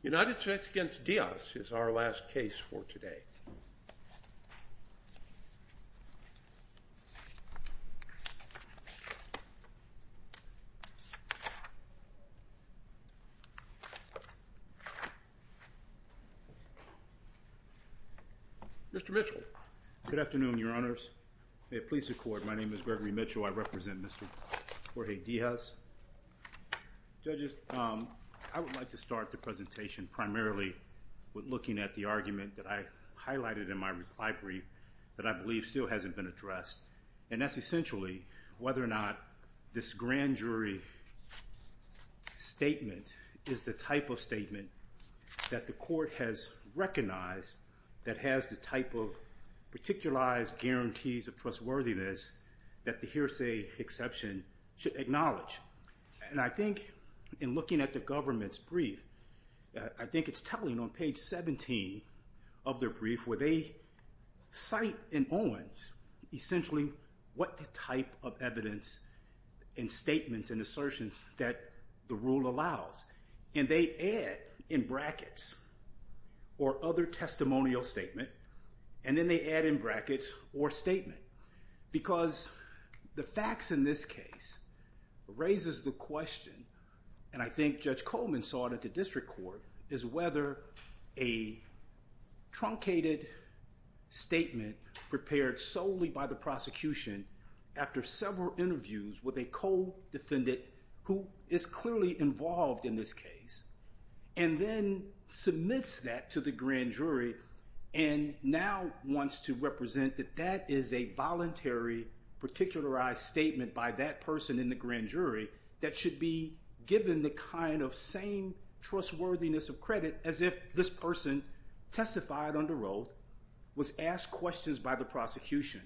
United States v. Diaz is our last case for today. Mr. Mitchell. Good afternoon, your honors. May it please the court, my name is Gregory Mitchell. I represent Mr. Jorge Diaz. Judges, I would like to start the presentation primarily with looking at the argument that I highlighted in my reply brief that I believe still hasn't been addressed. And that's essentially whether or not this grand jury statement is the type of statement that the court has recognized that has the type of hearsay exception should acknowledge. And I think in looking at the government's brief, I think it's telling on page 17 of their brief where they cite in Owen's essentially what the type of evidence and statements and assertions that the rule allows. And they add in brackets or other testimonial statement, and then they add in brackets or statement. Because the facts in this case raises the question, and I think Judge Coleman saw it at the district court, is whether a truncated statement prepared solely by the prosecution after several interviews with a co-defendant who is clearly involved in this case. And then submits that to the grand jury and now wants to represent that that is a voluntary particularized statement by that person in the grand jury that should be given the kind of same trustworthiness of credit as if this person testified under oath, was asked questions by the prosecution.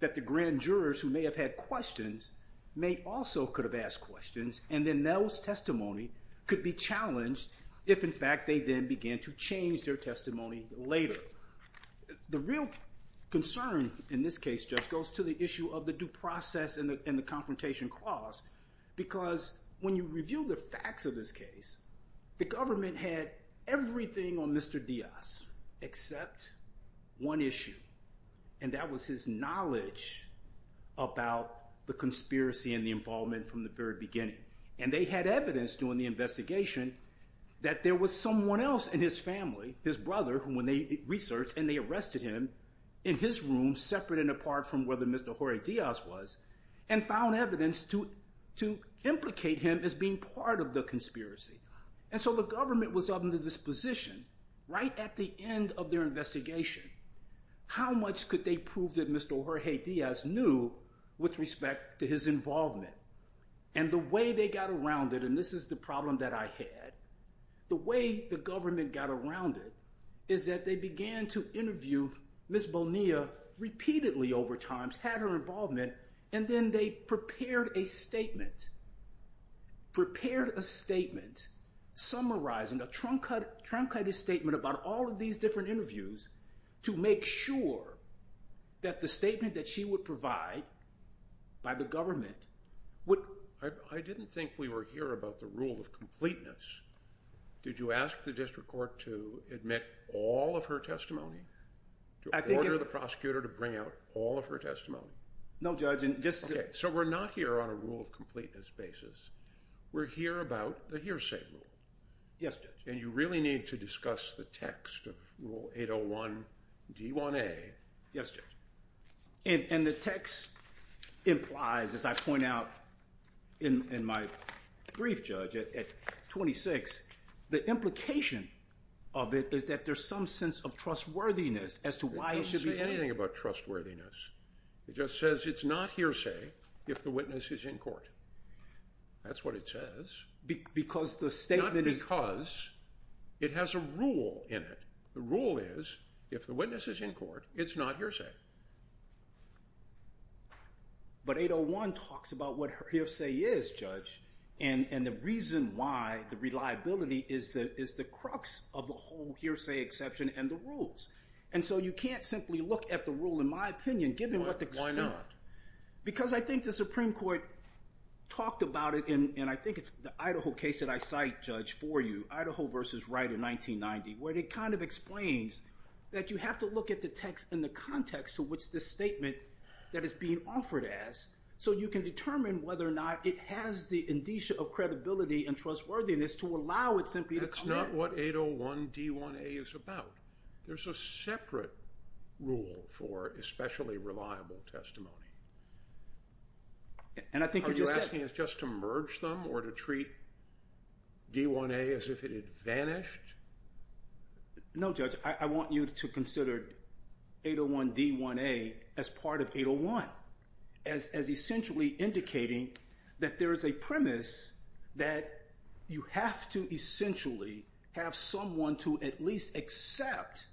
That the grand jurors who may have had questions may also could have asked questions, and then those testimony could be challenged if in fact they then began to change their testimony later. The real concern in this case, Judge, goes to the issue of the due process and the confrontation clause. Because when you review the about the conspiracy and the involvement from the very beginning. And they had evidence during the investigation that there was someone else in his family, his brother, who when they researched and they arrested him in his room, separate and apart from whether Mr. Jorge Diaz was, and found evidence to implicate him as being part of the knew with respect to his involvement. And the way they got around it, and this is the problem that I had, the way the government got around it, is that they began to interview Ms. Bonilla repeatedly over time, had her involvement, and then they prepared a statement, prepared a statement, summarizing a truncated statement about all of these different interviews to make sure that the statement that she would provide by the government would... I didn't think we were here about the rule of completeness. Did you ask the district court to admit all of her testimony? I think... To order the prosecutor to bring out all of her testimony? No, Judge. Okay, so we're not here on a rule of completeness basis. We're here about the hearsay rule. Yes, Judge. And you really need to discuss the text of Rule 801 D1A. Yes, Judge. And the text implies, as I point out in my brief, Judge, at 26, the implication of it is that there's some sense of trustworthiness as to why it should be... It doesn't say anything about trustworthiness. It just says it's not hearsay if the witness is in court. That's what it says. Because the statement is... Because it has a rule in it. The rule is if the witness is in court, it's not hearsay. But 801 talks about what hearsay is, Judge, and the reason why the reliability is the crux of the whole hearsay exception and the rules. And so you can't simply look at the rule, in my opinion, given what the... Why not? Because I think the Supreme Court talked about it, and I think it's the Idaho case that I cite, Judge, for you, Idaho versus Wright in 1990, where it kind of explains that you have to look at the text in the context to which this statement that is being offered as, so you can determine whether or not it has the indicia of credibility and trustworthiness to allow it simply to come in. That's not what 801D1A is about. There's a separate rule for especially reliable testimony. And I think you just said... Are you asking us just to merge them or to treat D1A as if it had vanished? No, Judge. I want you to consider 801D1A as part of 801, as essentially indicating that there is a premise that you have to essentially have someone to at least accept,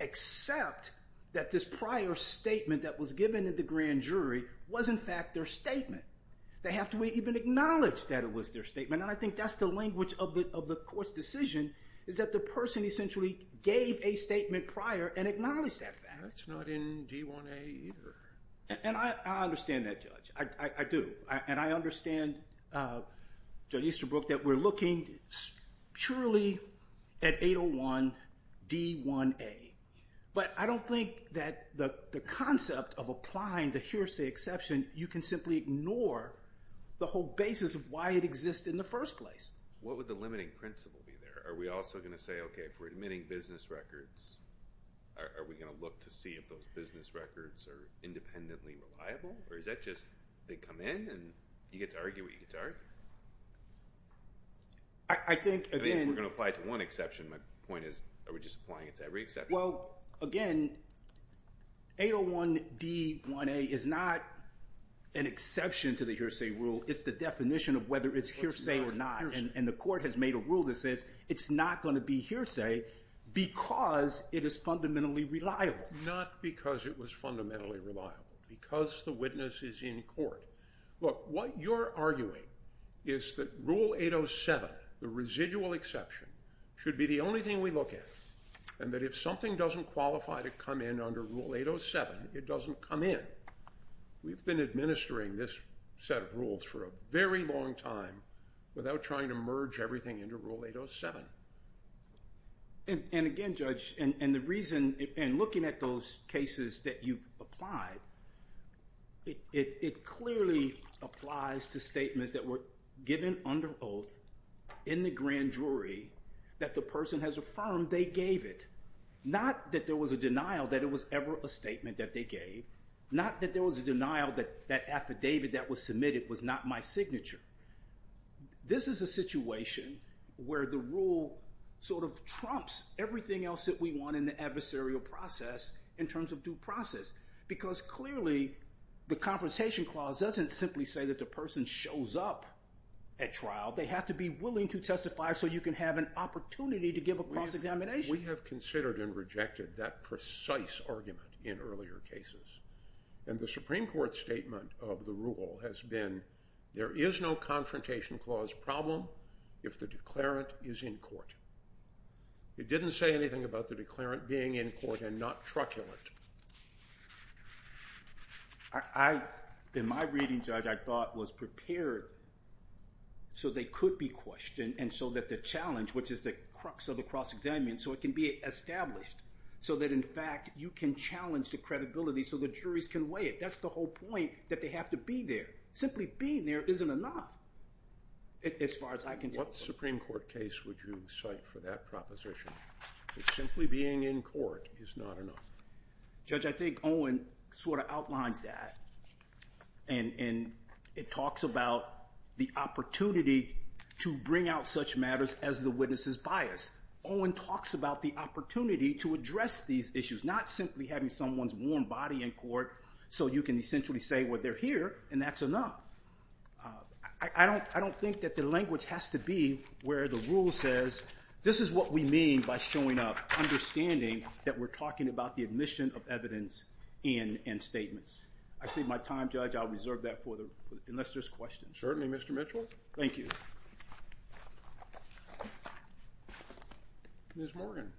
accept that this prior statement that was given at the grand jury was in fact their statement. They have to even acknowledge that it was their statement. And I think that's the language of the court's decision, is that the person essentially gave a statement prior and acknowledged that fact. That's not in D1A either. And I understand that, Judge. I do. And I understand, Judge Easterbrook, that we're looking purely at 801D1A. But I don't think that the concept of applying the hearsay exception, you can simply ignore the whole basis of why it exists in the first place. What would the limiting principle be there? Are we also going to say, okay, if we're admitting business records, are we going to look to see if those business records are independently reliable? Or is that just they come in and you get to argue what you get to argue? I think, again... I think if we're going to apply it to one exception, my point is are we just applying it to every exception? Well, again, 801D1A is not an exception to the hearsay rule. It's the definition of whether it's hearsay or not. And the court has made a rule that says it's not going to be hearsay because it is fundamentally reliable. Not because it was fundamentally reliable. Because the witness is in court. Look, what you're arguing is that Rule 807, the residual exception, should be the only thing we look at, and that if something doesn't qualify to come in under Rule 807, it doesn't come in. We've been administering this set of rules for a very long time without trying to merge everything into Rule 807. And again, Judge, and the reason... And looking at those cases that you've applied, it clearly applies to statements that were given under oath in the grand jury that the person has affirmed they gave it. Not that there was a denial that it was ever a statement that they gave. Not that there was a denial that that affidavit that was submitted was not my signature. This is a situation where the rule sort of trumps everything else that we want in the adversarial process in terms of due process. Because clearly, the Confrontation Clause doesn't simply say that the person shows up at trial. They have to be willing to testify so you can have an opportunity to give a cross-examination. We have considered and rejected that precise argument in earlier cases. And the Supreme Court statement of the rule has been, there is no Confrontation Clause problem if the declarant is in court. It didn't say anything about the declarant being in court and not truculent. In my reading, Judge, I thought was prepared so they could be questioned and so that the challenge, which is the crux of the cross-examination, so it can be established. So that, in fact, you can challenge the credibility so the juries can weigh it. That's the whole point, that they have to be there. Simply being there isn't enough as far as I can tell. What Supreme Court case would you cite for that proposition, that simply being in court is not enough? Judge, I think Owen sort of outlines that. And it talks about the opportunity to bring out such matters as the witness's bias. Owen talks about the opportunity to address these issues, not simply having someone's warm body in court so you can essentially say, well, they're here, and that's enough. I don't think that the language has to be where the rule says, this is what we mean by showing up, understanding that we're talking about the admission of evidence and statements. I see my time, Judge. I'll reserve that for the rest of the questions. Certainly, Mr. Mitchell. Thank you. Ms. Morgan.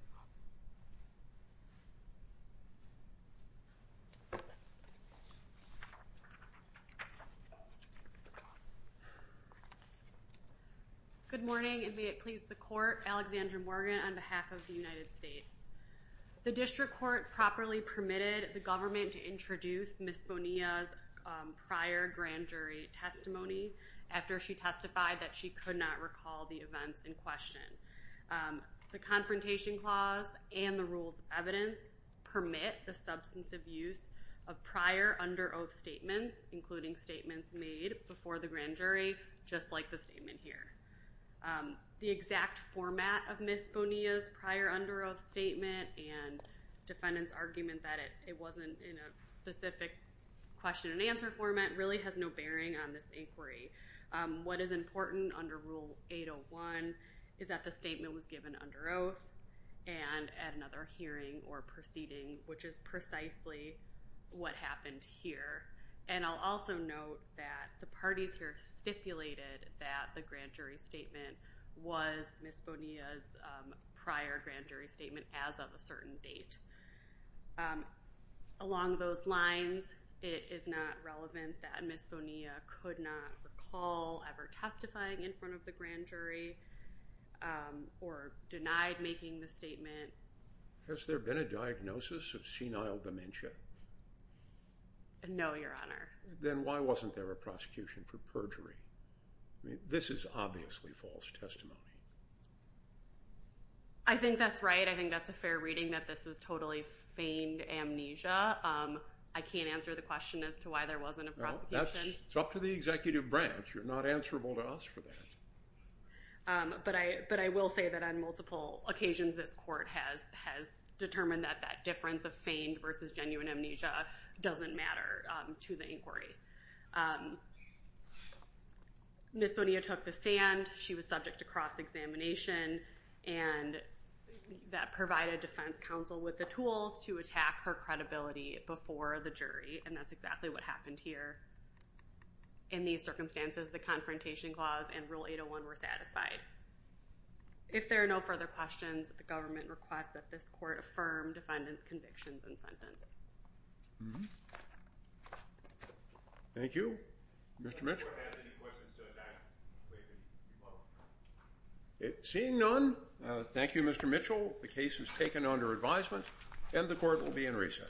Good morning, and may it please the Court. Alexandra Morgan on behalf of the United States. The District Court properly permitted the government to introduce Ms. Bonilla's prior grand jury testimony after she testified that she could not recall the events in question. The Confrontation Clause and the Rules of Evidence permit the substantive use of prior under oath statements, including statements made before the grand jury, just like the statement here. The exact format of Ms. Bonilla's prior under oath statement and defendant's argument that it wasn't in a specific question and answer format really has no bearing on this inquiry. What is important under Rule 801 is that the statement was given under oath and at another hearing or proceeding, which is precisely what happened here. And I'll also note that the parties here stipulated that the grand jury statement was Ms. Bonilla's prior grand jury statement as of a certain date. Along those lines, it is not relevant that Ms. Bonilla could not recall ever testifying in front of the grand jury or denied making the statement. Has there been a diagnosis of senile dementia? No, Your Honor. Then why wasn't there a prosecution for perjury? This is obviously false testimony. I think that's right. I think that's a fair reading that this was totally feigned amnesia. I can't answer the question as to why there wasn't a prosecution. It's up to the executive branch. You're not answerable to us for that. But I will say that on multiple occasions, this court has determined that that difference of feigned versus genuine amnesia doesn't matter to the inquiry. Ms. Bonilla took the stand. She was subject to cross-examination, and that provided defense counsel with the tools to attack her credibility before the jury, and that's exactly what happened here. In these circumstances, the Confrontation Clause and Rule 801 were satisfied. If there are no further questions, the government requests that this court affirm defendant's convictions and sentence. Thank you. Mr. Mitchell? If the court has any questions to attack, please rebuttal. Seeing none, thank you, Mr. Mitchell. The case is taken under advisement, and the court will be in recess.